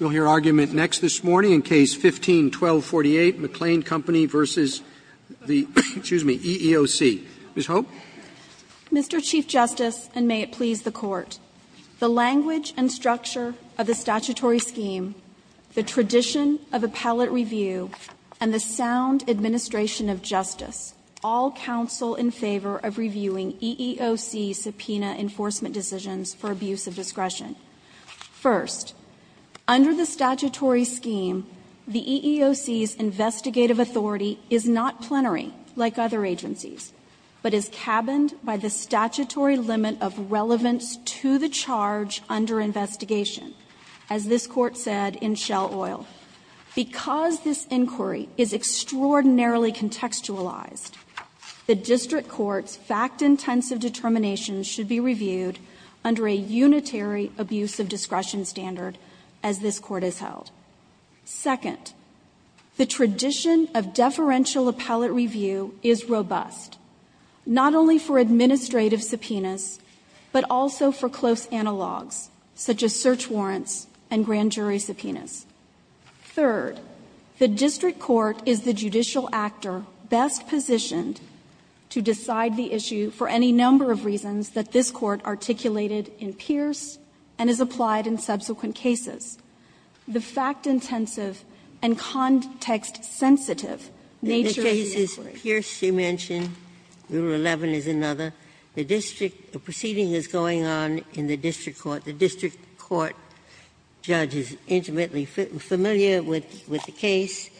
We'll hear argument next this morning in Case 15-1248, McLean Company v. the EEOC. Ms. Hope. Mr. Chief Justice, and may it please the Court, the language and structure of the statutory scheme, the tradition of appellate review, and the sound administration of justice all counsel in favor of reviewing EEOC subpoena enforcement decisions for abuse of discretion. First, under the statutory scheme, the EEOC's investigative authority is not plenary, like other agencies, but is cabined by the statutory limit of relevance to the charge under investigation, as this Court said in Shell Oil. Because this inquiry is extraordinarily contextualized, the District Court's fact-intensive determinations should be reviewed under a unitary abuse of discretion standard, as this Court has held. Second, the tradition of deferential appellate review is robust, not only for administrative subpoenas, but also for close analogs, such as search warrants and grand jury subpoenas. Third, the District Court is the judicial actor best positioned to decide the issue for any number of reasons that this Court articulated in Pierce and is applied in subsequent cases. The fact-intensive and context-sensitive nature of the inquiry the case is Pierce, you mentioned, Rule 11 is another. The district proceeding is going on in the District Court. The District Court judge is intimately familiar with the case,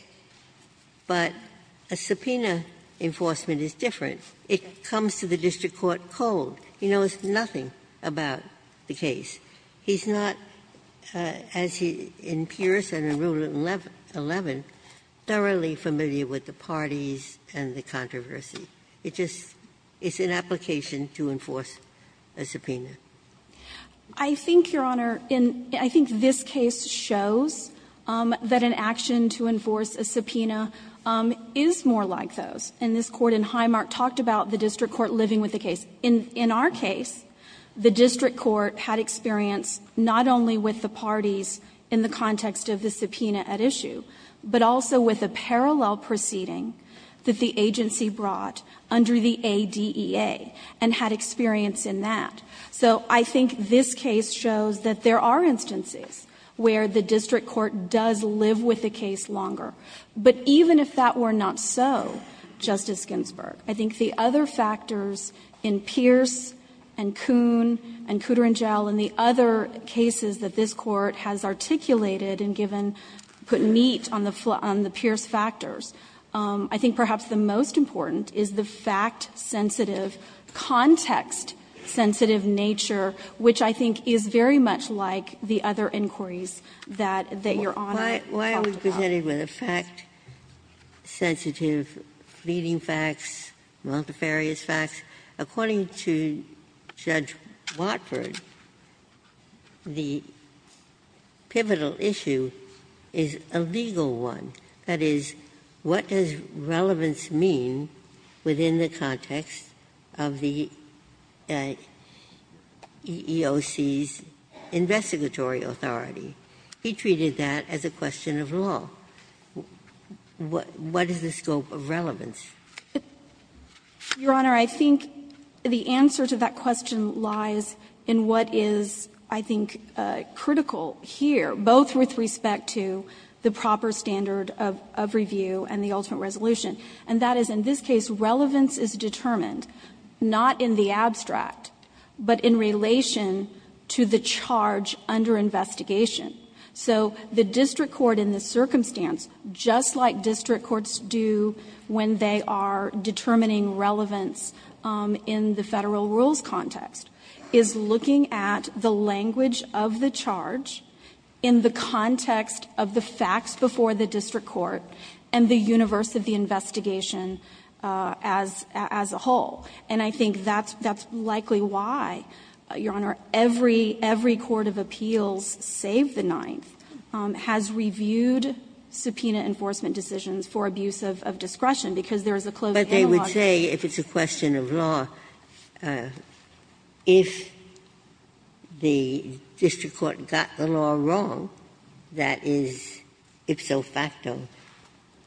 but a subpoena enforcement is different. It comes to the District Court cold. He knows nothing about the case. He's not, as in Pierce and in Rule 11, thoroughly familiar with the parties and the controversy. It just is an application to enforce a subpoena. I think, Your Honor, I think this case shows that an action to enforce a subpoena is more like those. And this Court in Highmark talked about the District Court living with the case. In our case, the District Court had experience not only with the parties in the context of the subpoena at issue, but also with a parallel proceeding that the agency brought under the ADEA and had experience in that. So I think this case shows that there are instances where the District Court does live with the case longer. But even if that were not so, Justice Ginsburg, I think the other factors in Pierce and Kuhn and Kutter and Gell and the other cases that this Court has articulated and given, put meat on the Pierce factors, I think perhaps the most important is the fact-sensitive, context-sensitive nature, which I think is very much like with a fact-sensitive leading facts, multifarious facts. According to Judge Watford, the pivotal issue is a legal one. That is, what does relevance mean within the context of the EEOC's investigatory authority? He treated that as a question of law. What is the scope of relevance? Your Honor, I think the answer to that question lies in what is, I think, critical here, both with respect to the proper standard of review and the ultimate resolution. And that is, in this case, relevance is determined not in the abstract, but in relation to the charge under investigation. So the district court in this circumstance, just like district courts do when they are determining relevance in the Federal rules context, is looking at the language of the charge in the context of the facts before the district court and the universe of the investigation as a whole. And I think that's likely why, Your Honor, every court of appeals, save the Ninth, has reviewed subpoena enforcement decisions for abuse of discretion, because there is a closing analogy. Ginsburg. But they would say, if it's a question of law, if the district court got the law wrong, that is ipso facto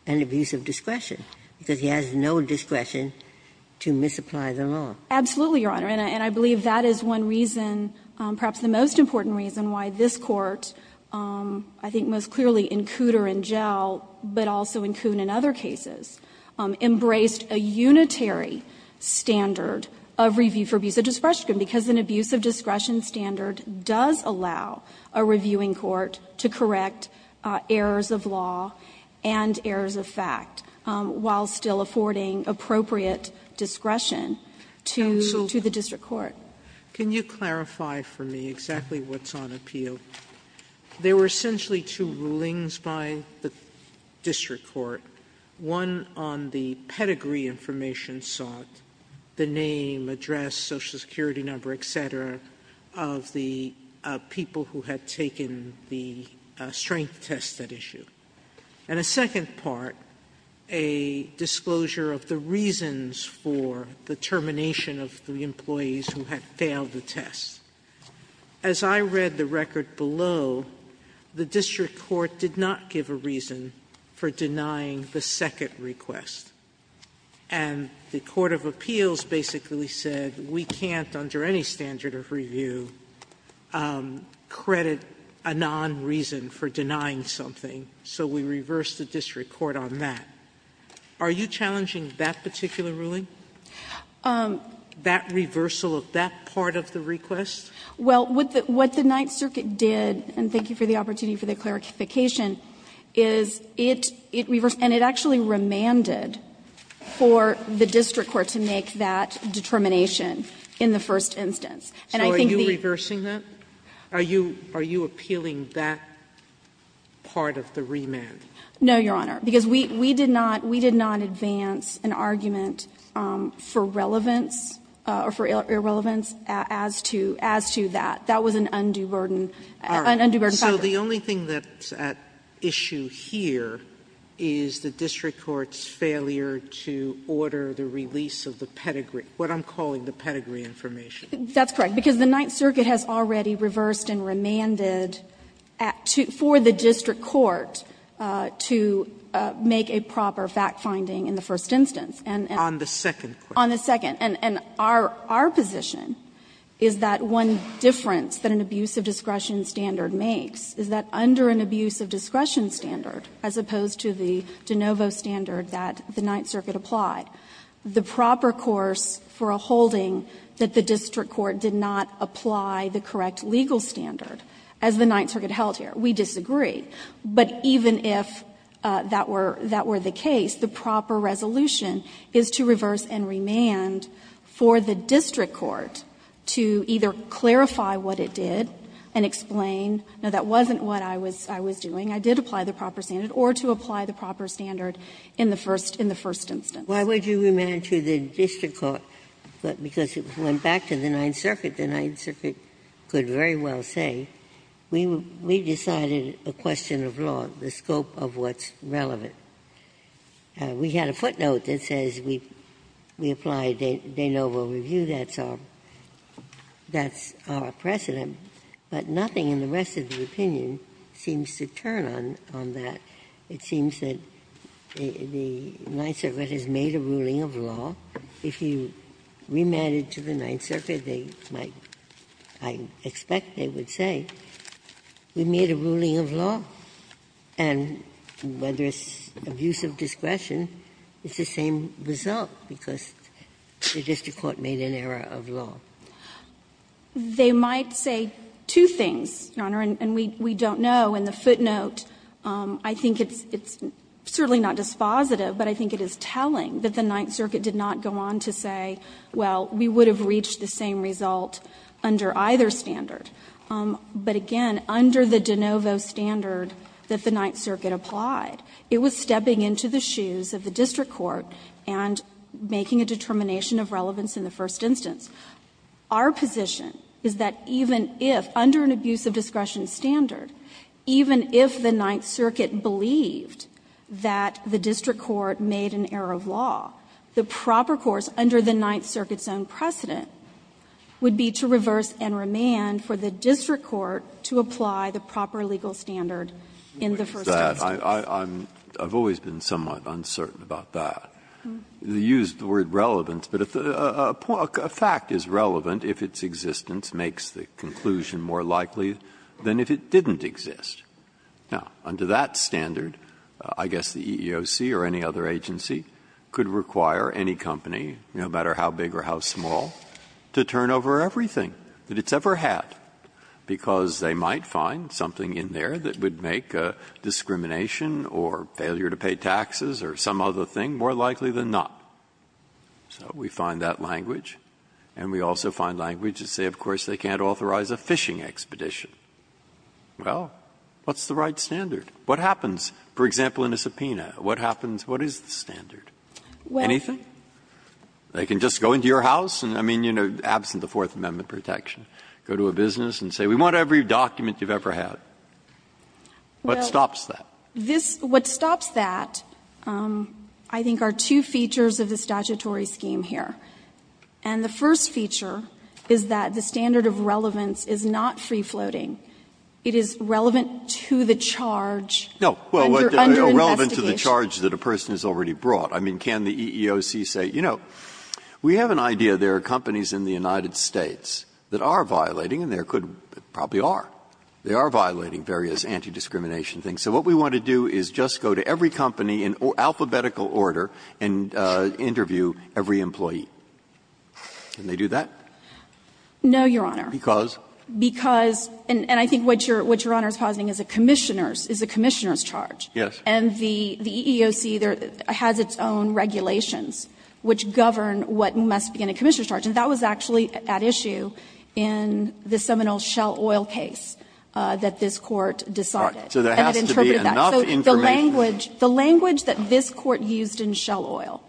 an abuse of discretion, because he has no discretion to misapply the law. Absolutely, Your Honor. And I believe that is one reason, perhaps the most important reason, why this Court, I think most clearly in Cooter and Gell, but also in Kuhn and other cases, embraced a unitary standard of review for abuse of discretion, because an abuse of discretion standard does allow a reviewing court to correct errors of law and errors of fact while still affording appropriate discretion to the district court. Can you clarify for me exactly what's on appeal? There were essentially two rulings by the district court, one on the pedigree information sought, the name, address, Social Security number, et cetera, of the people who had taken the strength test at issue. And a second part, a disclosure of the reasons for the termination of the employees who had failed the test. As I read the record below, the district court did not give a reason for denying the second request. And the court of appeals basically said, we can't, under any standard of review, credit a non-reason for denying something, so we reverse the district court on that. Are you challenging that particular ruling? That reversal of that part of the request? Well, what the Ninth Circuit did, and thank you for the opportunity for the clarification, is it reversed and it actually remanded for the district court to make that determination in the first instance. And I think the ---- So are you reversing that? Are you appealing that part of the remand? No, Your Honor, because we did not advance an argument for relevance or for irrelevance as to that. That was an undue burden, an undue burden. All right. So the only thing that's at issue here is the district court's failure to order the release of the pedigree, what I'm calling the pedigree information. That's correct, because the Ninth Circuit has already reversed and remanded for the district court to make a proper fact-finding in the first instance. And the second question. On the second. And our position is that one difference that an abuse of discretion standard makes is that under an abuse of discretion standard, as opposed to the de novo standard that the Ninth Circuit applied, the proper course for a holding that the district court did not apply the correct legal standard, as the Ninth Circuit held here, we disagree. But even if that were the case, the proper resolution is to reverse and remand for the district court to either clarify what it did and explain, no, that wasn't what I was doing, I did apply the proper standard, or to apply the proper standard in the first instance. Ginsburg. Why would you remand to the district court? Because it went back to the Ninth Circuit. The Ninth Circuit could very well say, we decided a question of law, the scope of what's relevant. We had a footnote that says we applied de novo review, that's our precedent, but nothing in the rest of the opinion seems to turn on that. It seems that the Ninth Circuit has made a ruling of law. If you remand it to the Ninth Circuit, they might, I expect they would say, we made a ruling of law. And whether it's abuse of discretion, it's the same result, because the district court made an error of law. They might say two things, Your Honor, and we don't know. And the footnote, I think it's certainly not dispositive, but I think it is telling that the Ninth Circuit did not go on to say, well, we would have reached the same result under either standard. But again, under the de novo standard that the Ninth Circuit applied, it was stepping into the shoes of the district court and making a determination of relevance in the first instance. Our position is that even if, under an abuse of discretion standard, even if the Ninth Circuit believed that the district court made an error of law, the proper course under the Ninth Circuit's own precedent would be to reverse and remand for the district court to apply the proper legal standard in the first instance. Breyer, I've always been somewhat uncertain about that. You used the word relevance, but a fact is relevant if its existence makes the conclusion more likely than if it didn't exist. Now, under that standard, I guess the EEOC or any other agency could require any company, no matter how big or how small, to turn over everything that it's ever had, because they might find something in there that would make discrimination or failure to pay more than not. So we find that language, and we also find language that say, of course, they can't authorize a fishing expedition. Well, what's the right standard? What happens, for example, in a subpoena? What happens? What is the standard? Anything? They can just go into your house and, I mean, you know, absent the Fourth Amendment protection, go to a business and say, we want every document you've ever had. What stops that? This — what stops that, I think, are two features of the statutory scheme here. And the first feature is that the standard of relevance is not free-floating. It is relevant to the charge under investigation. Breyer. No. Well, relevant to the charge that a person has already brought. I mean, can the EEOC say, you know, we have an idea there are companies in the United States that are violating, and there could probably are, they are violating various anti-discrimination things. So what we want to do is just go to every company in alphabetical order and interview every employee. Can they do that? No, Your Honor. Because? Because — and I think what Your Honor is positing is a commissioner's charge. Yes. And the EEOC has its own regulations which govern what must be in a commissioner's charge. And that was actually at issue in the Seminole Shell Oil case that this Court decided. So there has to be enough information. So the language that this Court used in Shell Oil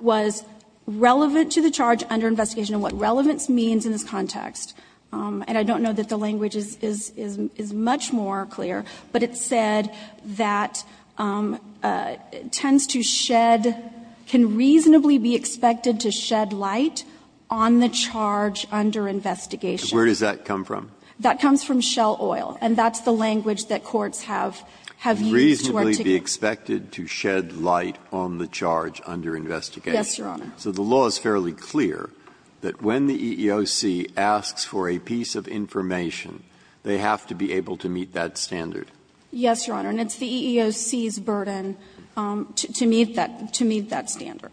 was relevant to the charge under investigation, and what relevance means in this context. And I don't know that the language is much more clear, but it said that it tends to shed, can reasonably be expected to shed light on the charge under investigation. Where does that come from? That comes from Shell Oil, and that's the language that courts have used to articulate it. Can reasonably be expected to shed light on the charge under investigation. Yes, Your Honor. So the law is fairly clear that when the EEOC asks for a piece of information, they have to be able to meet that standard. Yes, Your Honor. And it's the EEOC's burden to meet that standard.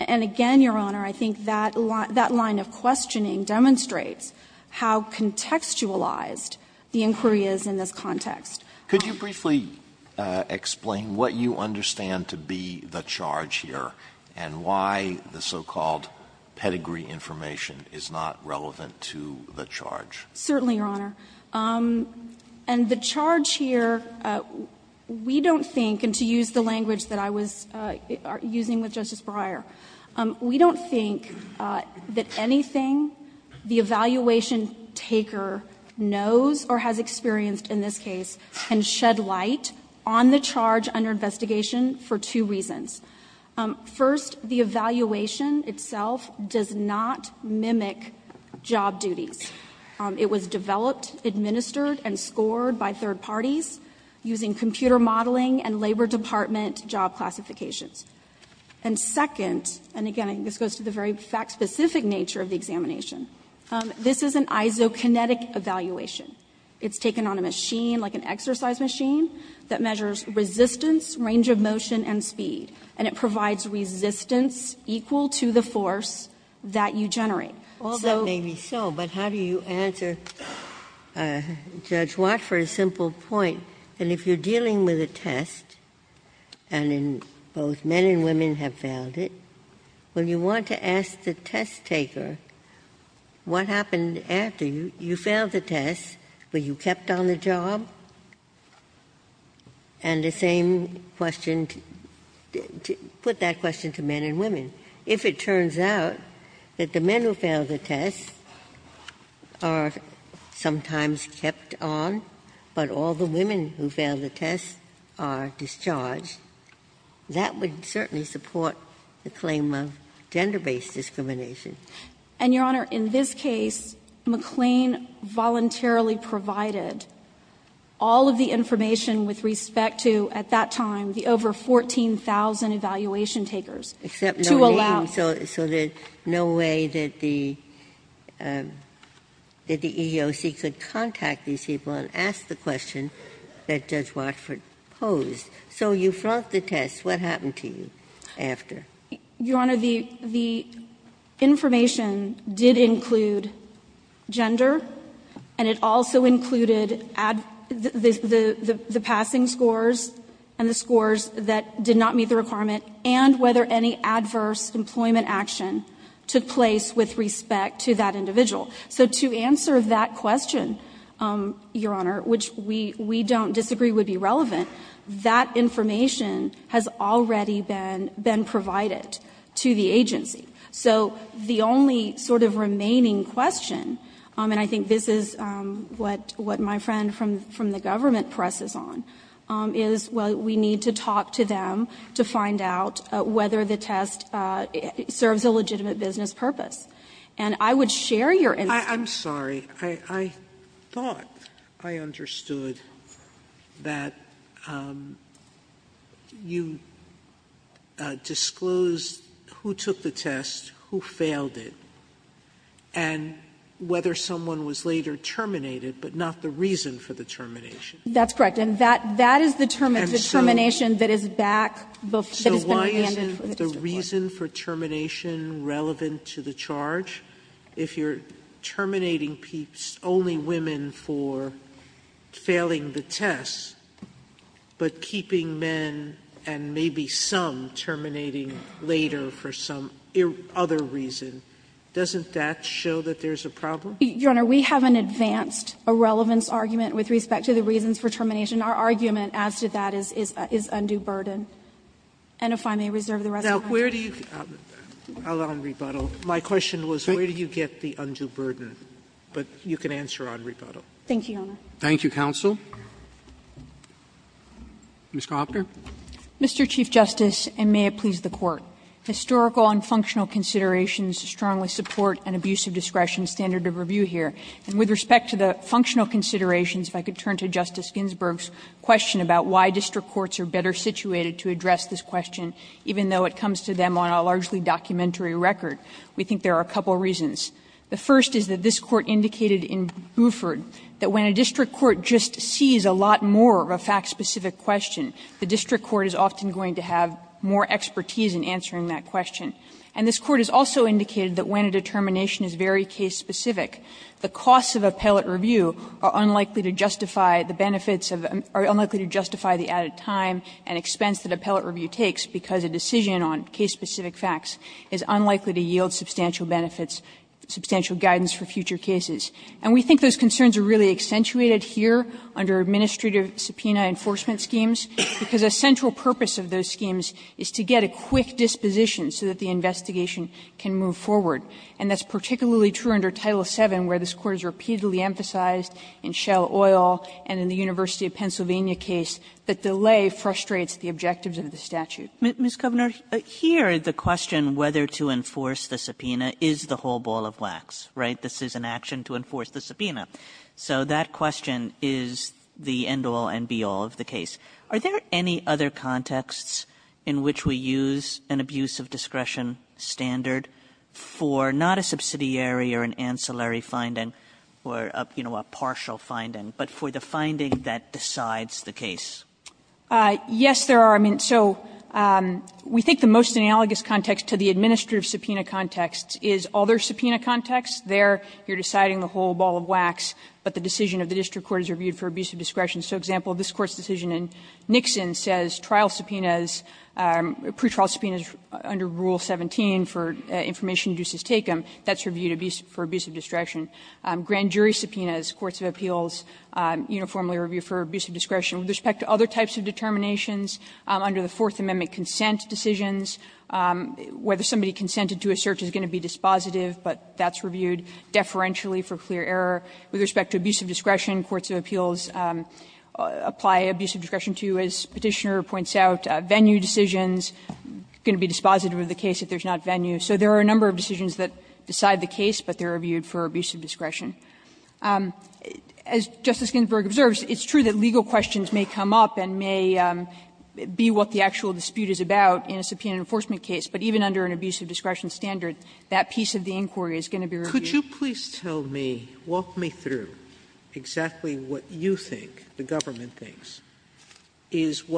And again, Your Honor, I think that line of questioning demonstrates how contextualized the inquiry is in this context. Could you briefly explain what you understand to be the charge here and why the so-called pedigree information is not relevant to the charge? Certainly, Your Honor. And the charge here, we don't think, and to use the language that I was using with We don't think that anything the evaluation taker knows or has experienced in this case can shed light on the charge under investigation for two reasons. First, the evaluation itself does not mimic job duties. It was developed, administered, and scored by third parties using computer modeling and labor department job classifications. And second, and again, this goes to the very fact-specific nature of the examination, this is an isokinetic evaluation. It's taken on a machine, like an exercise machine, that measures resistance, range of motion, and speed. And it provides resistance equal to the force that you generate. So the charge here is not relevant to the charge under investigation for two reasons. All that may be so, but how do you answer Judge Watt for a simple point? And if you're dealing with a test, and both men and women have failed it, when you want to ask the test taker what happened after you failed the test, were you kept on the job? And the same question, put that question to men and women. If it turns out that the men who failed the test are sometimes kept on, but all the women who failed the test are discharged, that would certainly support the claim of gender-based discrimination. And, Your Honor, in this case, McLean voluntarily provided all of the information with respect to, at that time, the over 14,000 evaluation takers to allow them to be tested. Except no name, so there's no way that the EEOC could contact these people and ask the question that Judge Watt proposed. So you flunked the test. What happened to you after? Your Honor, the information did include gender, and it also included the passing scores and the scores that did not meet the requirement, and whether any adverse employment action took place with respect to that individual. So to answer that question, Your Honor, which we don't disagree would be relevant, that information has already been provided to the agency. So the only sort of remaining question, and I think this is what my friend from the government presses on, is, well, we need to talk to them to find out whether the test serves a legitimate business purpose. And I would share your interest in that. Sotomayor, I'm sorry. I thought I understood that you disclosed who took the test, who failed it, and whether someone was later terminated, but not the reason for the termination. That's correct. And that is the termination that is back that has been remanded for the disreport. Sotomayor, is the reason for termination relevant to the charge? If you're terminating only women for failing the test, but keeping men and maybe some terminating later for some other reason, doesn't that show that there's a problem? Your Honor, we have an advanced irrelevance argument with respect to the reasons for termination. Our argument as to that is undue burden. And if I may reserve the rest of my time. Sotomayor, where do you get the undue burden? But you can answer on rebuttal. Thank you, Your Honor. Thank you, counsel. Ms. Kopner. Mr. Chief Justice, and may it please the Court. Historical and functional considerations strongly support an abuse of discretion standard of review here. And with respect to the functional considerations, if I could turn to Justice Ginsburg's question about why district courts are better situated to address this question, even though it comes to them on a largely documentary record. We think there are a couple of reasons. The first is that this Court indicated in Buford that when a district court just sees a lot more of a fact-specific question, the district court is often going to have more expertise in answering that question. And this Court has also indicated that when a determination is very case-specific, the costs of appellate review are unlikely to justify the benefits of the added time and expense that appellate review takes, because a decision on case-specific facts is unlikely to yield substantial benefits, substantial guidance for future cases. And we think those concerns are really accentuated here under administrative subpoena enforcement schemes, because a central purpose of those schemes is to get a quick disposition so that the investigation can move forward. And that's particularly true under Title VII, where this Court has repeatedly emphasized in Shell Oil and in the University of Pennsylvania case that delay frustrates the objectives of the statute. Ms. Kovner, here, the question whether to enforce the subpoena is the whole ball of wax, right? This is an action to enforce the subpoena. So that question is the end-all and be-all of the case. Are there any other contexts in which we use an abuse of discretion standard for not a subsidiary or an ancillary finding or, you know, a partial finding, but for the finding that decides the case? Yes, there are. I mean, so we think the most analogous context to the administrative subpoena context is other subpoena contexts. There, you're deciding the whole ball of wax, but the decision of the district court is reviewed for abuse of discretion. So, example, this Court's decision in Nixon says trial subpoenas, pretrial subpoenas under Rule 17 for information induces take-em, that's reviewed for abuse of discretion. Grand jury subpoenas, courts of appeals, uniformly review for abuse of discretion. With respect to other types of determinations, under the Fourth Amendment consent decisions, whether somebody consented to a search is going to be dispositive, but that's reviewed deferentially for clear error. With respect to abuse of discretion, courts of appeals apply abuse of discretion to, as Petitioner points out, venue decisions. It's going to be dispositive of the case if there's not venue. So there are a number of decisions that decide the case, but they're reviewed for abuse of discretion. As Justice Ginsburg observes, it's true that legal questions may come up and may be what the actual dispute is about in a subpoena enforcement case, but even under an abuse of discretion standard, that piece of the inquiry is going to be reviewed. Sotomayor, could you please tell me, walk me through exactly what you think the government is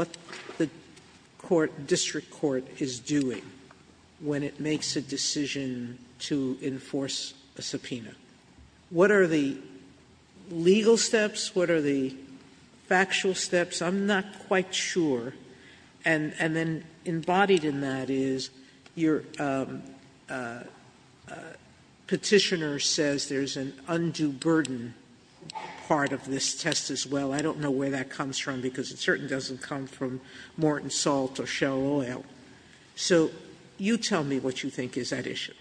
doing when it makes a decision to enforce a subpoena. What are the legal steps? What are the factual steps? I'm not quite sure. And then embodied in that is your Petitioner says there's an undue burden part of this test as well. I don't know where that comes from, because it certainly doesn't come from Morton Salt or Shell Oil. So you tell me what you think is at issue.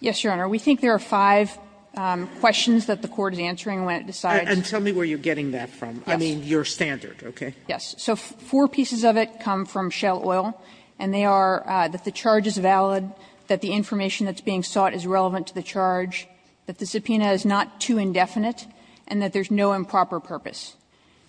Yes, Your Honor. We think there are five questions that the court is answering when it decides. And tell me where you're getting that from. Yes. I mean, your standard, okay? Yes. So four pieces of it come from Shell Oil, and they are that the charge is valid, that the information that's being sought is relevant to the charge, that the subpoena is not too indefinite, and that there's no improper purpose.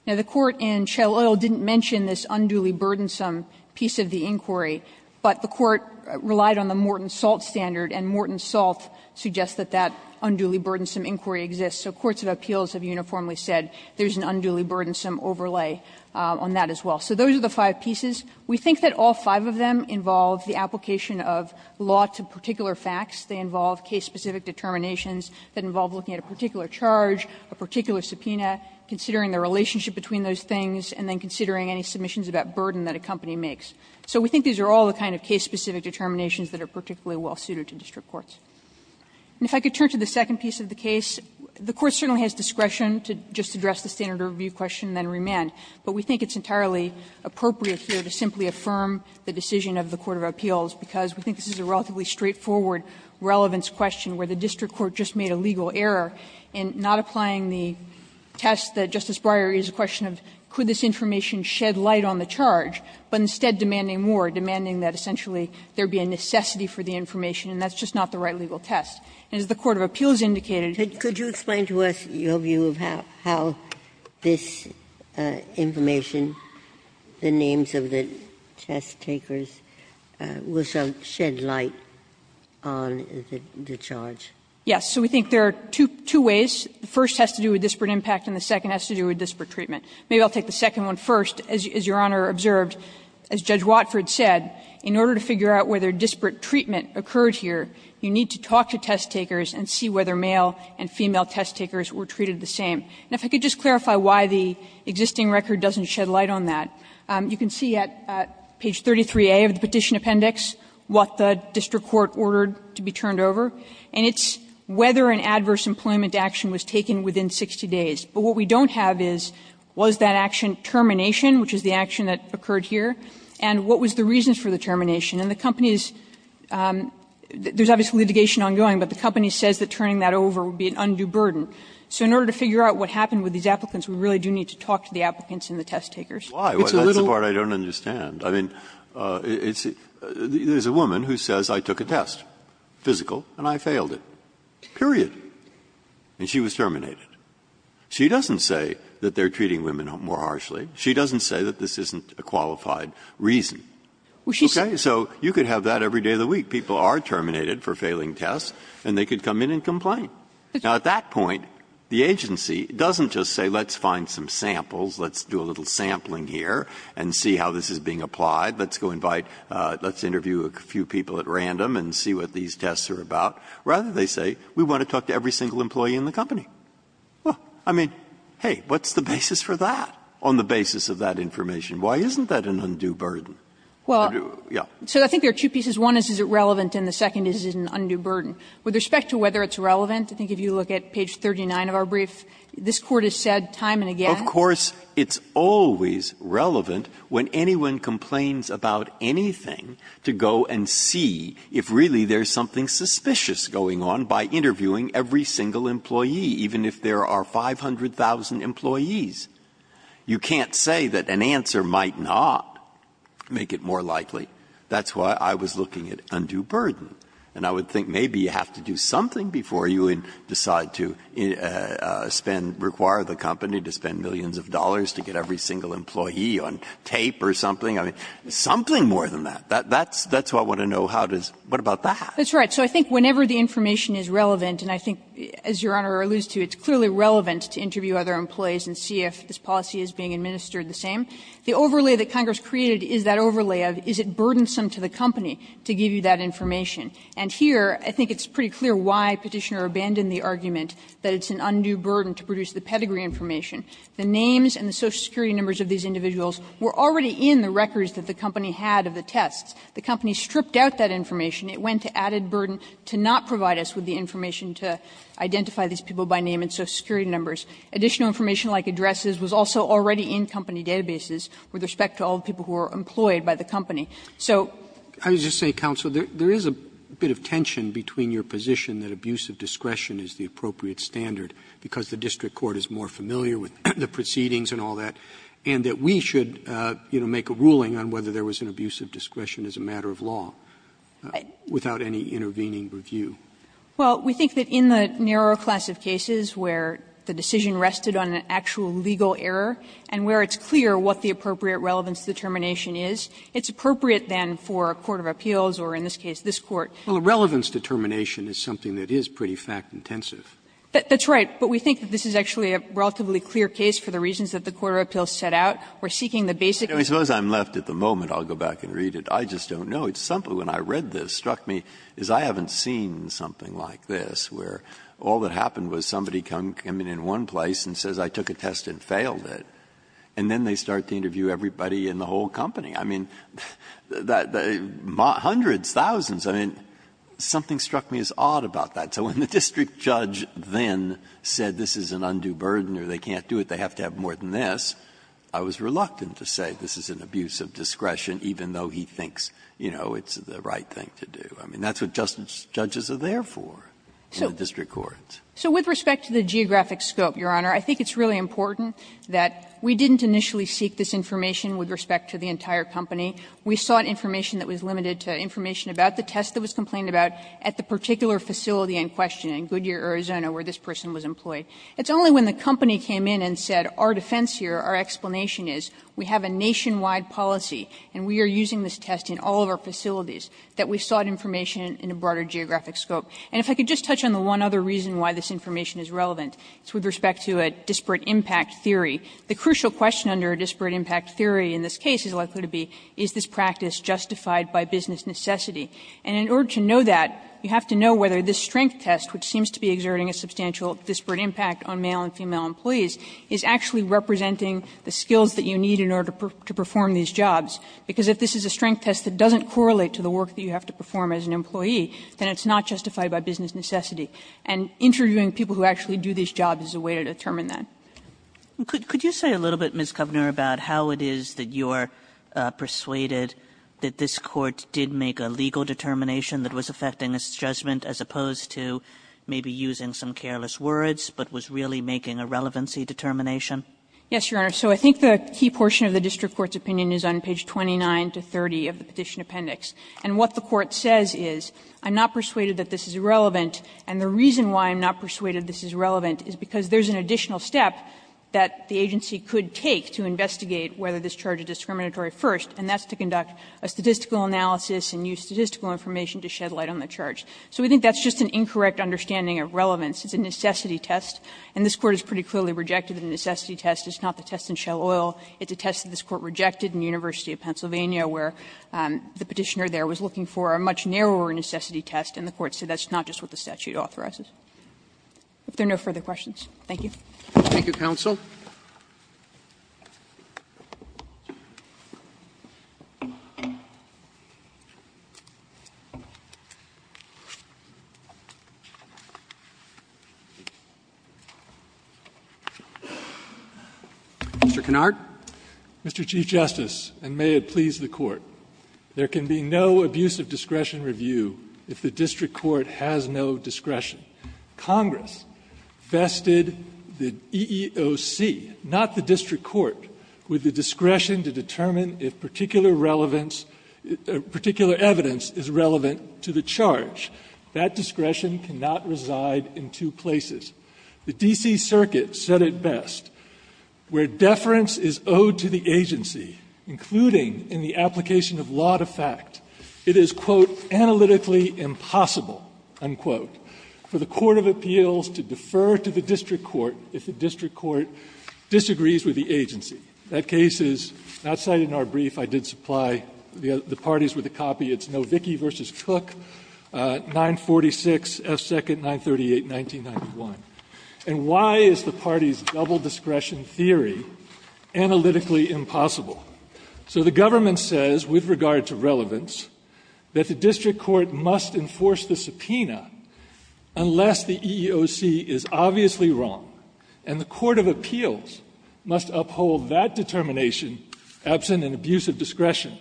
Now, the court in Shell Oil didn't mention this unduly burdensome piece of the inquiry, but the court relied on the Morton Salt standard, and Morton Salt suggests that that unduly burdensome inquiry exists. So courts of appeals have uniformly said there's an unduly burdensome overlay on that as well. So those are the five pieces. We think that all five of them involve the application of law to particular facts. They involve case-specific determinations that involve looking at a particular charge, a particular subpoena, considering the relationship between those things, and then considering any submissions about burden that a company makes. So we think these are all the kind of case-specific determinations that are particularly well-suited to district courts. And if I could turn to the second piece of the case, the Court certainly has discretion to just address the standard review question and then remand, but we think it's entirely appropriate here to simply affirm the decision of the court of appeals, because we think this is a relatively straightforward relevance question where the district court just made a legal error in not applying the test that Justice Breyer raised a question of, could this information shed light on the charge, but instead demanding more, demanding that essentially there be a necessity for the information, and that's just not the right legal test. And as the court of appeals indicated, it's not the right legal test. Ginsburg. Could you explain to us your view of how this information, the names of the test-takers, will shed light on the charge? Yes. So we think there are two ways. The first has to do with disparate impact and the second has to do with disparate treatment. Maybe I'll take the second one first. As Your Honor observed, as Judge Watford said, in order to figure out whether disparate treatment occurred here, you need to talk to test-takers and see whether male and female test-takers were treated the same. And if I could just clarify why the existing record doesn't shed light on that. You can see at page 33A of the Petition Appendix what the district court ordered to be turned over, and it's whether an adverse employment action was taken within 60 days. But what we don't have is, was that action termination, which is the action that occurred here, and what was the reason for the termination? And the company is – there's obviously litigation ongoing, but the company says that turning that over would be an undue burden. So in order to figure out what happened with these applicants, we really do need to talk to the applicants and the test-takers. Breyer, that's the part I don't understand. I mean, it's – there's a woman who says, I took a test, physical, and I failed it, period, and she was terminated. She doesn't say that they're treating women more harshly. She doesn't say that this isn't a qualified reason. Okay? So you could have that every day of the week. People are terminated for failing tests, and they could come in and complain. Now, at that point, the agency doesn't just say, let's find some samples, let's do a little sampling here and see how this is being applied, let's go invite – let's interview a few people at random and see what these tests are about. Rather, they say, we want to talk to every single employee in the company. Well, I mean, hey, what's the basis for that, on the basis of that information? Why isn't that an undue burden? Kagan. Well, so I think there are two pieces. One is, is it relevant, and the second is, is it an undue burden? With respect to whether it's relevant, I think if you look at page 39 of our brief, this Court has said time and again. Of course, it's always relevant when anyone complains about anything to go and see if really there's something suspicious going on by interviewing every single employee, even if there are 500,000 employees. You can't say that an answer might not make it more likely. That's why I was looking at undue burden. And I would think maybe you have to do something before you decide to spend – require the company to spend millions of dollars to get every single employee on tape or something. I mean, something more than that. That's what I want to know. How does – what about that? That's right. So I think whenever the information is relevant, and I think, as Your Honor alludes to, it's clearly relevant to interview other employees and see if this policy is being administered the same, the overlay that Congress created is that overlay of, is it burdensome to the company to give you that information? And here, I think it's pretty clear why Petitioner abandoned the argument that it's an undue burden to produce the pedigree information. The names and the social security numbers of these individuals were already in the records that the company had of the tests. The company stripped out that information. It went to added burden to not provide us with the information to identify these people by name and social security numbers. Additional information like addresses was also already in company databases with respect to all the people who were employed by the company. So – Roberts, I would just say, counsel, there is a bit of tension between your position that abusive discretion is the appropriate standard because the district court is more familiar with the proceedings and all that, and that we should, you know, make a ruling on whether there was an abusive discretion as a matter of law without any intervening review. Well, we think that in the narrower class of cases where the decision rested on an actual legal error and where it's clear what the appropriate relevance determination is, it's appropriate then for a court of appeals or in this case, this Court. Well, a relevance determination is something that is pretty fact-intensive. That's right, but we think that this is actually a relatively clear case for the reasons that the court of appeals set out. We're seeking the basic. I suppose I'm left at the moment. I'll go back and read it. I just don't know. It's something when I read this struck me, is I haven't seen something like this where all that happened was somebody come in in one place and says I took a test and failed it, and then they start to interview everybody in the whole company. I mean, hundreds, thousands. I mean, something struck me as odd about that. So when the district judge then said this is an undue burden or they can't do it, they have to have more than this, I was reluctant to say this is an abusive discretion, even though he thinks, you know, it's the right thing to do. I mean, that's what judges are there for in the district courts. So with respect to the geographic scope, Your Honor, I think it's really important that we didn't initially seek this information with respect to the entire company. We sought information that was limited to information about the test that was complained about at the particular facility in question, in Goodyear, Arizona, where this person was employed. It's only when the company came in and said our defense here, our explanation is we have a nationwide policy, and we are using this test in all of our facilities, that we sought information in a broader geographic scope. And if I could just touch on the one other reason why this information is relevant, it's with respect to a disparate impact theory. The crucial question under a disparate impact theory in this case is likely to be, is this practice justified by business necessity? And in order to know that, you have to know whether this strength test, which seems to be exerting a substantial disparate impact on male and female employees, is actually representing the skills that you need in order to perform these jobs. Because if this is a strength test that doesn't correlate to the work that you have to perform as an employee, then it's not justified by business necessity. And interviewing people who actually do these jobs is a way to determine that. Could you say a little bit, Ms. Kovner, about how it is that you're persuaded that this Court did make a legal determination that was effecting its judgment as opposed to maybe using some careless words, but was really making a relevancy determination? Yes, Your Honor. So I think the key portion of the district court's opinion is on page 29 to 30 of the petition appendix. And what the Court says is, I'm not persuaded this is relevant, and the reason why I'm not persuaded this is relevant is because there's an additional step that the agency could take to investigate whether this charge is discriminatory first, and that's to conduct a statistical analysis and use statistical information to shed light on the charge. So we think that's just an incorrect understanding of relevance. It's a necessity test, and this Court has pretty clearly rejected the necessity test. It's not the test in Shell Oil. It's a test that this Court rejected in the University of Pennsylvania, where the Petitioner there was looking for a much narrower necessity test, and the Court said that's not just what the statute authorizes. If there are no further questions, thank you. Roberts, thank you, counsel. Mr. Kennard. Mr. Chief Justice, and may it please the Court, there can be no abuse of discretion review if the district court has no discretion. Congress vested the EEOC, not the district court, with the discretion to determine if particular relevance or particular evidence is relevant to the charge. That discretion cannot reside in two places. The D.C. Circuit said it best. Where deference is owed to the agency, including in the application of law to fact, it is, quote, analytically impossible, unquote, for the court of appeals to defer to the district court if the district court disagrees with the agency. That case is not cited in our brief. I did supply the parties with a copy. It's Novicki v. Cook, 946 F. 2nd, 938, 1991. And why is the parties' double discretion theory analytically impossible? So the government says, with regard to relevance, that the district court must enforce the subpoena unless the EEOC is obviously wrong, and the court of appeals must uphold that determination absent an abuse of discretion,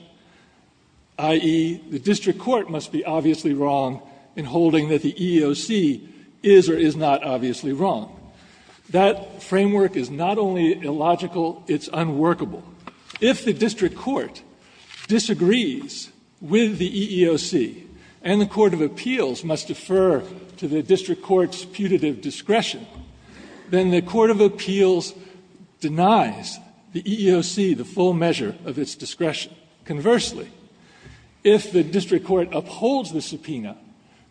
i.e., the district court must be obviously wrong in holding that the EEOC is or is not obviously wrong. That framework is not only illogical, it's unworkable. If the district court disagrees with the EEOC and the court of appeals must defer to the district court's putative discretion, then the court of appeals denies the EEOC the full measure of its discretion. Conversely, if the district court upholds the subpoena,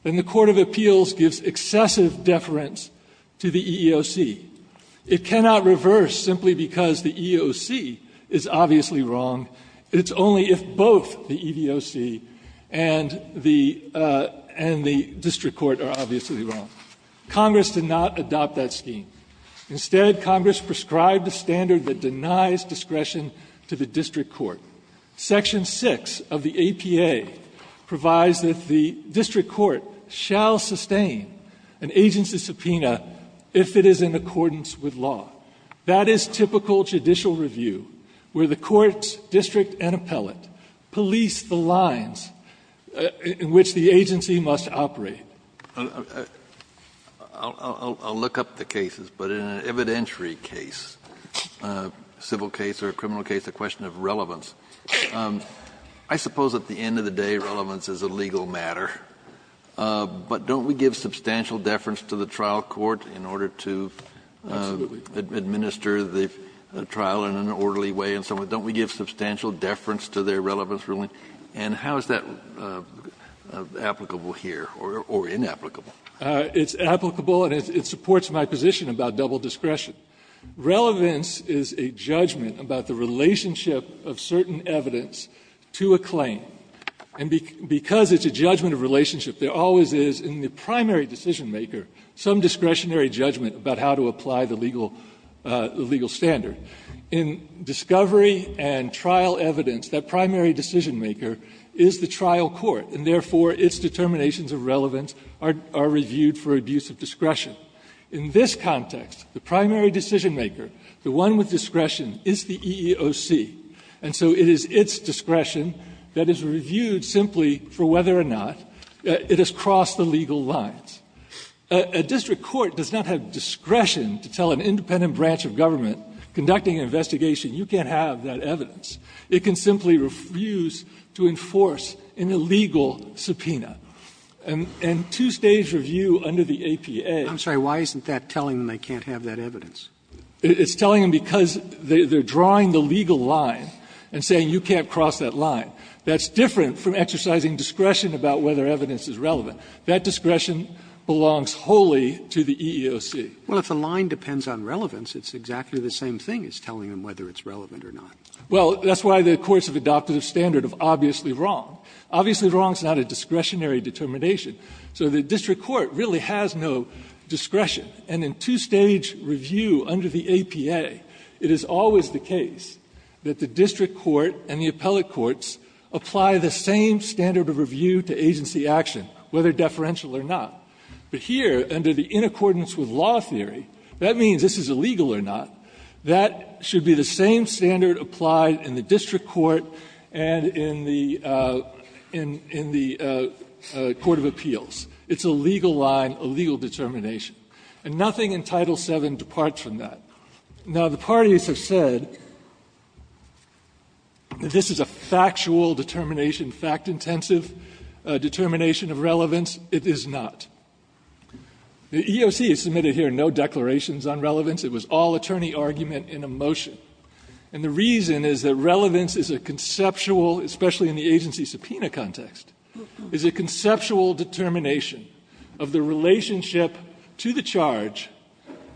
then the court of appeals gives excessive deference to the EEOC. It cannot reverse simply because the EEOC is obviously wrong. It's only if both the EEOC and the district court are obviously wrong. Congress did not adopt that scheme. Instead, Congress prescribed a standard that denies discretion to the district court. Section 6 of the APA provides that the district court shall sustain an agency's subpoena if it is in accordance with law. That is typical judicial review, where the court, district, and appellate police the lines in which the agency must operate. Kennedy. I'll look up the cases, but in an evidentiary case, civil case or a criminal case, the question of relevance, I suppose at the end of the day relevance is a legal matter, but don't we give substantial deference to the trial court in order to administer the trial in an orderly way? Don't we give substantial deference to their relevance ruling? And how is that applicable here or inapplicable? It's applicable and it supports my position about double discretion. Relevance is a judgment about the relationship of certain evidence to a claim. And because it's a judgment of relationship, there always is in the primary decision maker some discretionary judgment about how to apply the legal standard. In discovery and trial evidence, that primary decision maker is the trial court, and therefore its determinations of relevance are reviewed for abuse of discretion. In this context, the primary decision maker, the one with discretion, is the EEOC. And so it is its discretion that is reviewed simply for whether or not it has crossed the legal lines. A district court does not have discretion to tell an independent branch of government, conducting an investigation, you can't have that evidence. It can simply refuse to enforce an illegal subpoena. And two-stage review under the APA. Robertson, I'm sorry, why isn't that telling them they can't have that evidence? It's telling them because they're drawing the legal line and saying you can't cross that line. That's different from exercising discretion about whether evidence is relevant. That discretion belongs wholly to the EEOC. Roberts, well, if the line depends on relevance, it's exactly the same thing as telling them whether it's relevant or not. Well, that's why the courts have adopted a standard of obviously wrong. Obviously wrong is not a discretionary determination. So the district court really has no discretion. And in two-stage review under the APA, it is always the case that the district court and the appellate courts apply the same standard of review to agency action, whether deferential or not. But here, under the in accordance with law theory, that means this is illegal or not. That should be the same standard applied in the district court and in the court of appeals. It's a legal line, a legal determination. And nothing in Title VII departs from that. Now, the parties have said that this is a factual determination, fact-intensive determination of relevance. It is not. The EEOC has submitted here no declarations on relevance. It was all attorney argument in a motion. And the reason is that relevance is a conceptual, especially in the agency subpoena context, is a conceptual determination of the relationship to the charge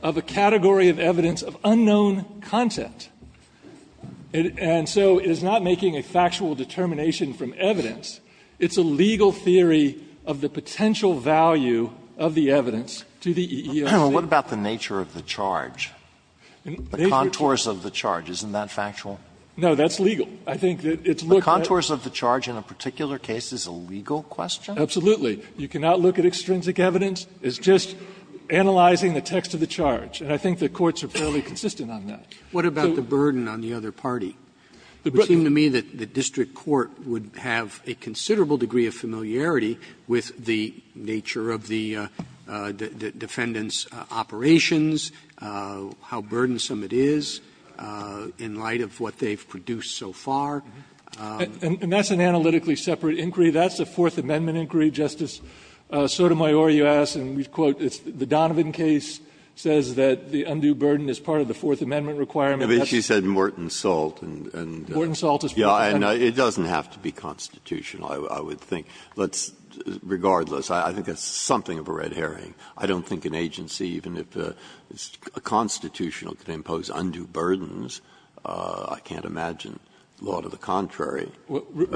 of a category of evidence of unknown content. And so it is not making a factual determination from evidence. It's a legal theory of the potential value of the evidence to the EEOC. Alito, what about the nature of the charge? The contours of the charge, isn't that factual? No, that's legal. I think that it's looked at the contours of the charge in a particular case is a legal question. Absolutely. You cannot look at extrinsic evidence. It's just analyzing the text of the charge. And I think the courts are fairly consistent on that. So what about the burden on the other party? It would seem to me that the district court would have a considerable degree of familiarity with the nature of the defendant's operations, how burdensome it is in light of what they've produced so far. And that's an analytically separate inquiry. That's a Fourth Amendment inquiry, Justice Sotomayor, you asked, and we quote, it's the Donovan case says that the undue burden is part of the Fourth Amendment requirement. She said Morton Salt and it doesn't have to be constitutional, I would think. Regardless, I think it's something of a red herring. I don't think an agency, even if it's constitutional, could impose undue burdens. I can't imagine law to the contrary.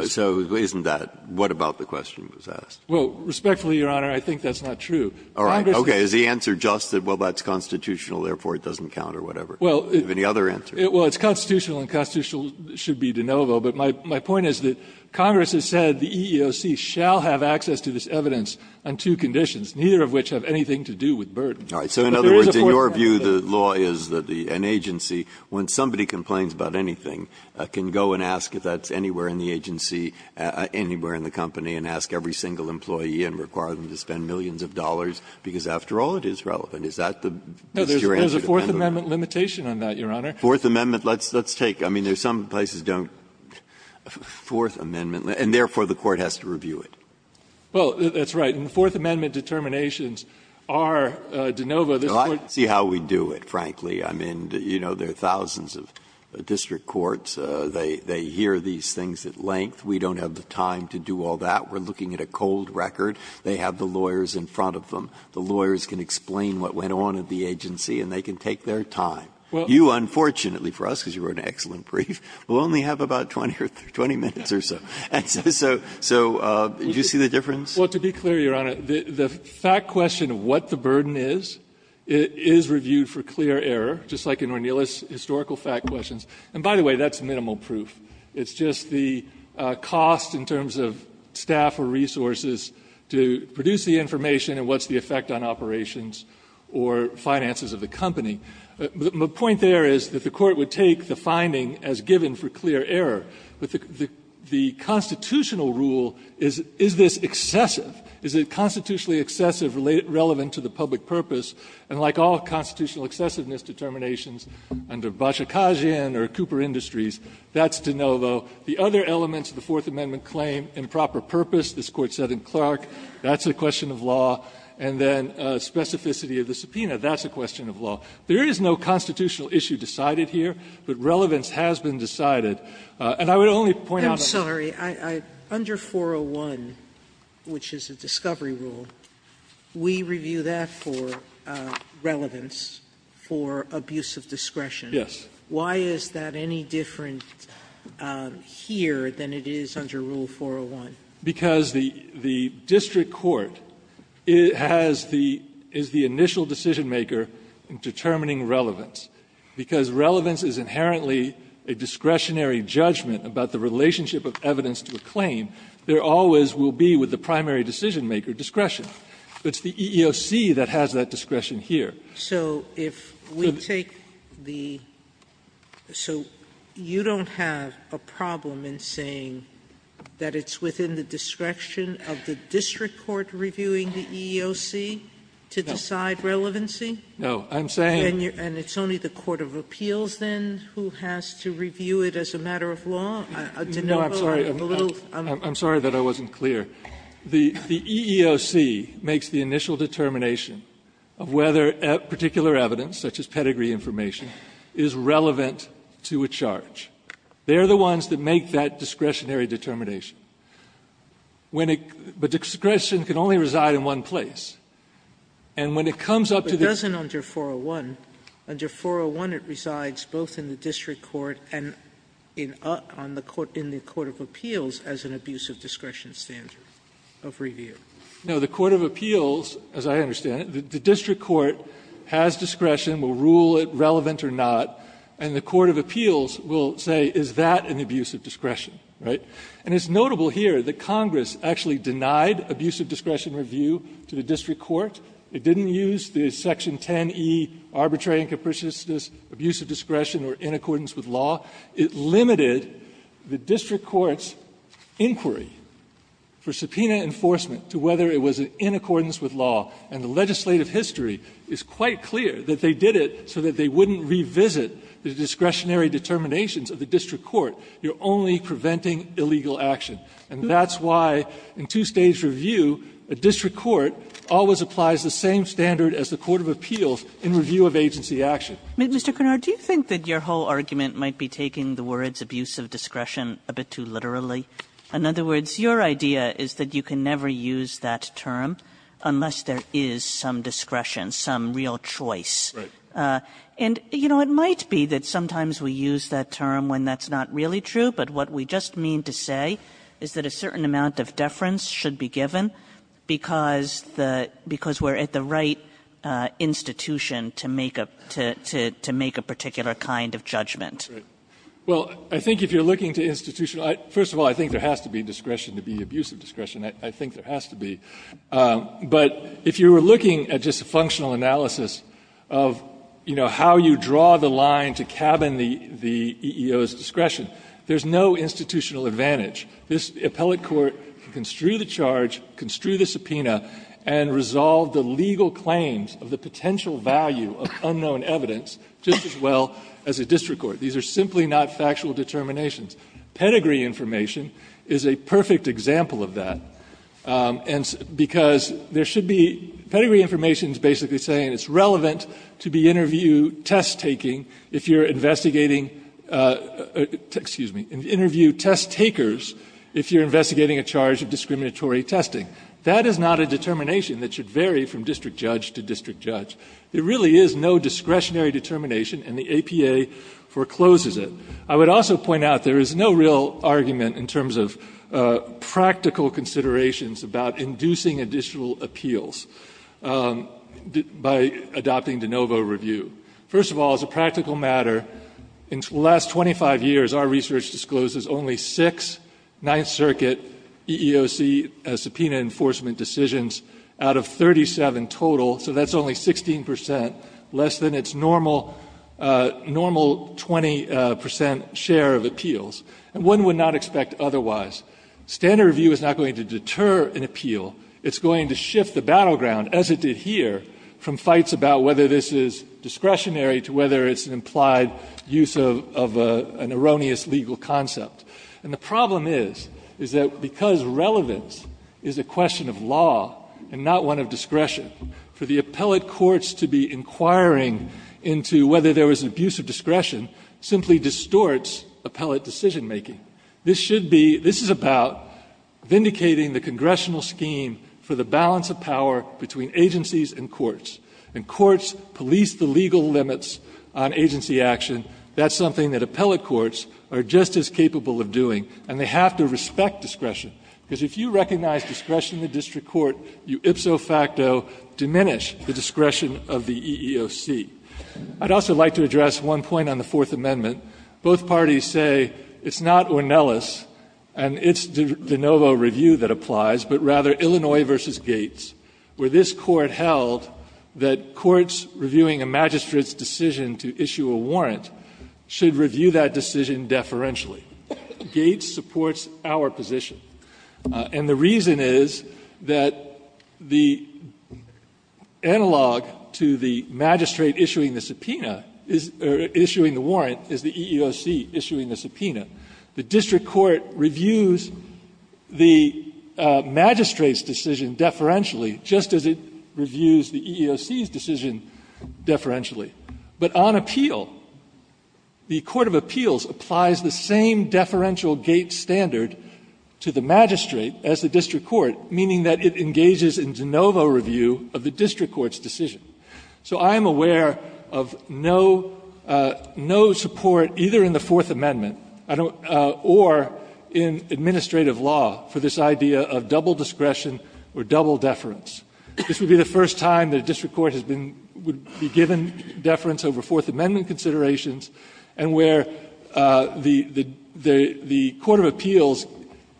So isn't that what about the question was asked? Well, respectfully, Your Honor, I think that's not true. All right. Okay. Is the answer just that, well, that's constitutional, therefore it doesn't count or whatever? Well, it's constitutional and constitutional should be de novo. But my point is that Congress has said the EEOC shall have access to this evidence on two conditions, neither of which have anything to do with burden. So in other words, in your view, the law is that an agency, when somebody complains about anything, can go and ask if that's anywhere in the agency, anywhere in the company, and ask every single employee and require them to spend millions of dollars, because after all, it is relevant. Is that your answer? No, there's a Fourth Amendment limitation on that, Your Honor. Fourth Amendment, let's take, I mean, there's some places don't, Fourth Amendment, and therefore the Court has to review it. Well, that's right. And the Fourth Amendment determinations are de novo. This Court can't do that. Well, I see how we do it, frankly. I mean, you know, there are thousands of district courts. They hear these things at length. We don't have the time to do all that. We're looking at a cold record. They have the lawyers in front of them. The lawyers can explain what went on at the agency, and they can take their time. You, unfortunately for us, because you wrote an excellent brief, will only have about 20 minutes or so. And so did you see the difference? Well, to be clear, Your Honor, the fact question of what the burden is, it is reviewed for clear error, just like in O'Neill's historical fact questions. And by the way, that's minimal proof. It's just the cost in terms of staff or resources to produce the information and what's the effect on operations or finances of the company. The point there is that the Court would take the finding as given for clear error. But the constitutional rule, is this excessive? Is it constitutionally excessive, relevant to the public purpose? And like all constitutional excessiveness determinations under Bacikagian or Cooper Industries, that's de novo. The other elements of the Fourth Amendment claim, improper purpose, this Court said in Clark, that's a question of law. And then specificity of the subpoena, that's a question of law. There is no constitutional issue decided here, but relevance has been decided. And I would only point out a point. Sotomayor, I'm sorry, under 401, which is a discovery rule, we review that for relevance, for abuse of discretion. Yes. Why is that any different here than it is under Rule 401? Because the district court has the – is the initial decisionmaker in determining relevance, because relevance is inherently a discretionary judgment about the relationship of evidence to a claim, there always will be, with the primary decisionmaker, discretion. It's the EEOC that has that discretion here. So if we take the – so you don't have a problem in saying that it's within the discretion of the district court reviewing the EEOC to decide relevancy? No. I'm saying – And it's only the court of appeals, then, who has to review it as a matter of law? De Novo, I'm a little – I'm sorry that I wasn't clear. The EEOC makes the initial determination of whether particular evidence, such as pedigree information, is relevant to a charge. They're the ones that make that discretionary determination. When it – but discretion can only reside in one place. And when it comes up to the – Sotomayor, it wasn't under 401. Under 401, it resides both in the district court and in the court of appeals as an abuse of discretion standard of review. No. The court of appeals, as I understand it, the district court has discretion, will rule it relevant or not, and the court of appeals will say, is that an abuse of discretion, right? And it's notable here that Congress actually denied abuse of discretion review to the district court. It didn't use the section 10E, arbitrary and capriciousness, abuse of discretion or in accordance with law. It limited the district court's inquiry for subpoena enforcement to whether it was in accordance with law. And the legislative history is quite clear that they did it so that they wouldn't revisit the discretionary determinations of the district court. You're only preventing illegal action. And that's why in two-stage review, a district court always applies the same standard as the court of appeals in review of agency action. Kagan. Mr. Cunard, do you think that your whole argument might be taking the words abuse of discretion a bit too literally? In other words, your idea is that you can never use that term unless there is some discretion, some real choice. Right. And, you know, it might be that sometimes we use that term when that's not really true, but what we just mean to say is that a certain amount of deference should be given because the we're at the right institution to make a particular kind of judgment. Right. Well, I think if you're looking to institutional – first of all, I think there has to be discretion to be abuse of discretion. I think there has to be. But if you were looking at just a functional analysis of, you know, how you draw the line to cabin the EEO's discretion, there's no institutional advantage. This appellate court can construe the charge, construe the subpoena, and resolve the legal claims of the potential value of unknown evidence just as well as a district court. These are simply not factual determinations. Pedigree information is a perfect example of that, because there should be – pedigree information is basically saying it's relevant to interview test-takers if you're investigating a charge of discriminatory testing. That is not a determination that should vary from district judge to district judge. There really is no discretionary determination, and the APA forecloses it. I would also point out there is no real argument in terms of practical considerations about inducing additional appeals. By adopting de novo review. First of all, as a practical matter, in the last 25 years, our research discloses only six Ninth Circuit EEOC subpoena enforcement decisions out of 37 total. So that's only 16 percent, less than its normal 20 percent share of appeals. And one would not expect otherwise. Standard review is not going to deter an appeal. It's going to shift the battleground, as it did here, from fights about whether this is discretionary to whether it's an implied use of an erroneous legal concept. And the problem is, is that because relevance is a question of law and not one of discretion, for the appellate courts to be inquiring into whether there was an abuse of discretion simply distorts appellate decision-making. This should be, this is about vindicating the congressional scheme for the balance of power between agencies and courts. And courts police the legal limits on agency action. That's something that appellate courts are just as capable of doing. And they have to respect discretion. Because if you recognize discretion in the district court, you ipso facto diminish the discretion of the EEOC. I'd also like to address one point on the Fourth Amendment. Both parties say it's not Ornelas and it's De Novo Review that applies, but rather Illinois v. Gates, where this Court held that courts reviewing a magistrate's decision to issue a warrant should review that decision deferentially. Gates supports our position. And the reason is that the analog to the magistrate issuing the subpoena, or issuing the warrant, is the EEOC issuing the subpoena. The district court reviews the magistrate's decision deferentially just as it reviews the EEOC's decision deferentially. But on appeal, the Court of Appeals applies the same deferential Gates standard to the magistrate as the district court, meaning that it engages in De Novo Review of the district court's decision. So I am aware of no support, either in the Fourth Amendment or in administrative law, for this idea of double discretion or double deference. This would be the first time that a district court has been, would be given deference over Fourth Amendment considerations, and where the Court of Appeals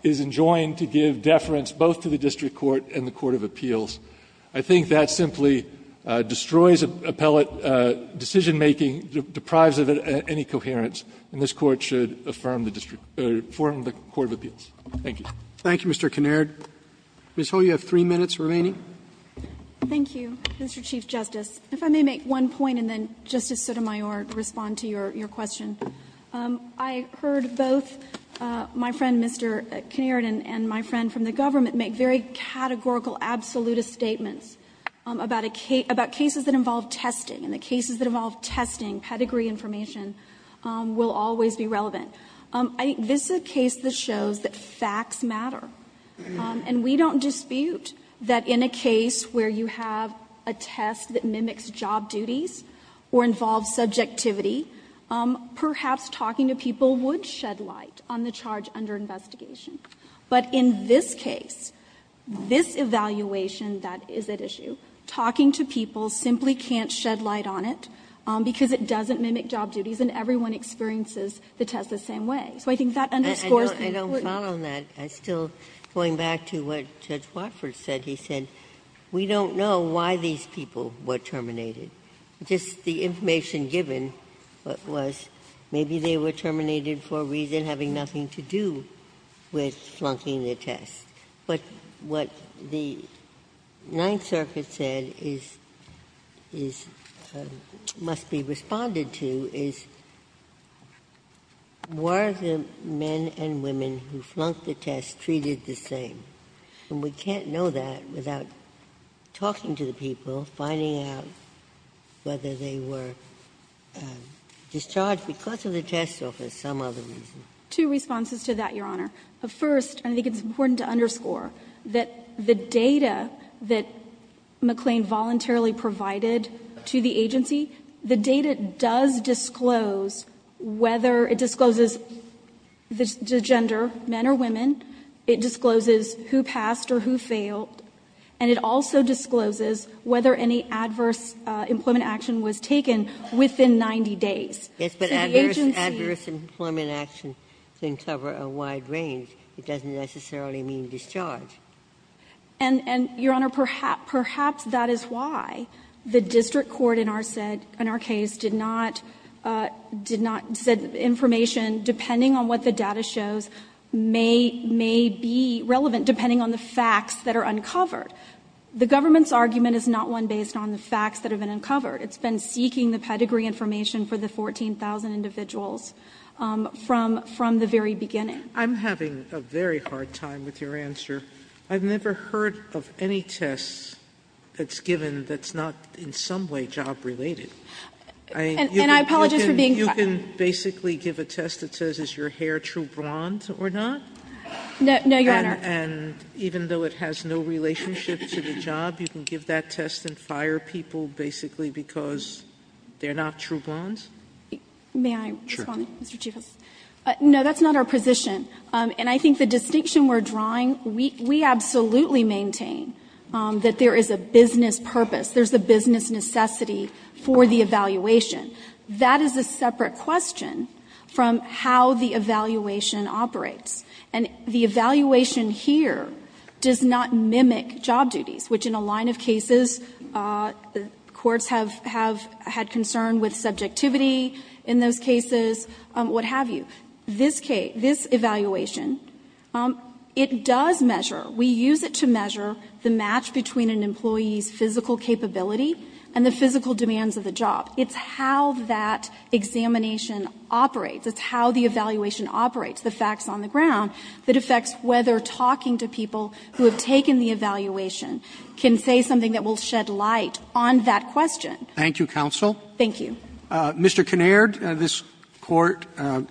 is enjoined to give deference both to the district court and the Court of Appeals. I think that simply destroys appellate decision-making, deprives of it any coherence, and this Court should affirm the district or form the Court of Appeals. Thank you. Roberts. Thank you, Mr. Kinnaird. Ms. Ho, you have three minutes remaining. Thank you, Mr. Chief Justice. If I may make one point and then Justice Sotomayor respond to your question. I heard both my friend, Mr. Kinnaird, and my friend from the government make very categorical, absolutist statements about cases that involve testing, and the cases that involve testing pedigree information will always be relevant. This is a case that shows that facts matter, and we don't dispute that in a case where you have a test that mimics job duties or involves subjectivity, perhaps talking to people would shed light on the charge under investigation. But in this case, this evaluation that is at issue, talking to people simply can't shed light on it because it doesn't mimic job duties, and everyone experiences the test the same way. So I think that underscores the importance. Ginsburg. I don't follow on that. I'm still going back to what Judge Watford said. He said, we don't know why these people were terminated. Just the information given was maybe they were terminated for a reason having nothing to do with flunking the test. But what the Ninth Circuit said is — must be responded to is, were the men and women who flunked the test treated the same? And we can't know that without talking to the people, finding out whether they were discharged because of the test or for some other reason. Two responses to that, Your Honor. First, I think it's important to underscore that the data that McLean voluntarily provided to the agency, the data does disclose whether — it discloses the gender, men or women. It discloses who passed or who failed. And it also discloses whether any adverse employment action was taken within 90 days. Yes, but adverse employment action can cover a wide range. It doesn't necessarily mean discharge. And, Your Honor, perhaps that is why the district court in our case did not — did not — said information, depending on what the data shows, may be relevant, depending on the facts that are uncovered. The government's argument is not one based on the facts that have been uncovered. It's been seeking the pedigree information for the 14,000 individuals from the very beginning. Sotomayor, I'm having a very hard time with your answer. I've never heard of any test that's given that's not in some way job-related. And you can basically give a test that says is your hair true blonde or not? No, Your Honor. And even though it has no relationship to the job, you can give that test and fire people basically because they're not true blondes? May I respond, Mr. Chief Justice? No, that's not our position. And I think the distinction we're drawing, we absolutely maintain that there is a business purpose, there's a business necessity for the evaluation. That is a separate question from how the evaluation operates. And the evaluation here does not mimic job duties, which in a line of cases, courts have had concern with subjectivity in those cases, what have you. This evaluation, it does measure, we use it to measure the match between an employee's physical capability and the physical demands of the job. It's how that examination operates. It's how the evaluation operates, the facts on the ground that affects whether talking to people who have taken the evaluation can say something that will shed light on that question. Thank you, counsel. Thank you. Mr. Kinnaird, this Court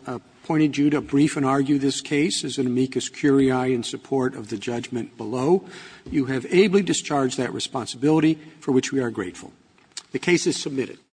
appointed you to brief and argue this case. As an amicus curiae in support of the judgment below, you have ably discharged that responsibility for which we are grateful. The case is submitted.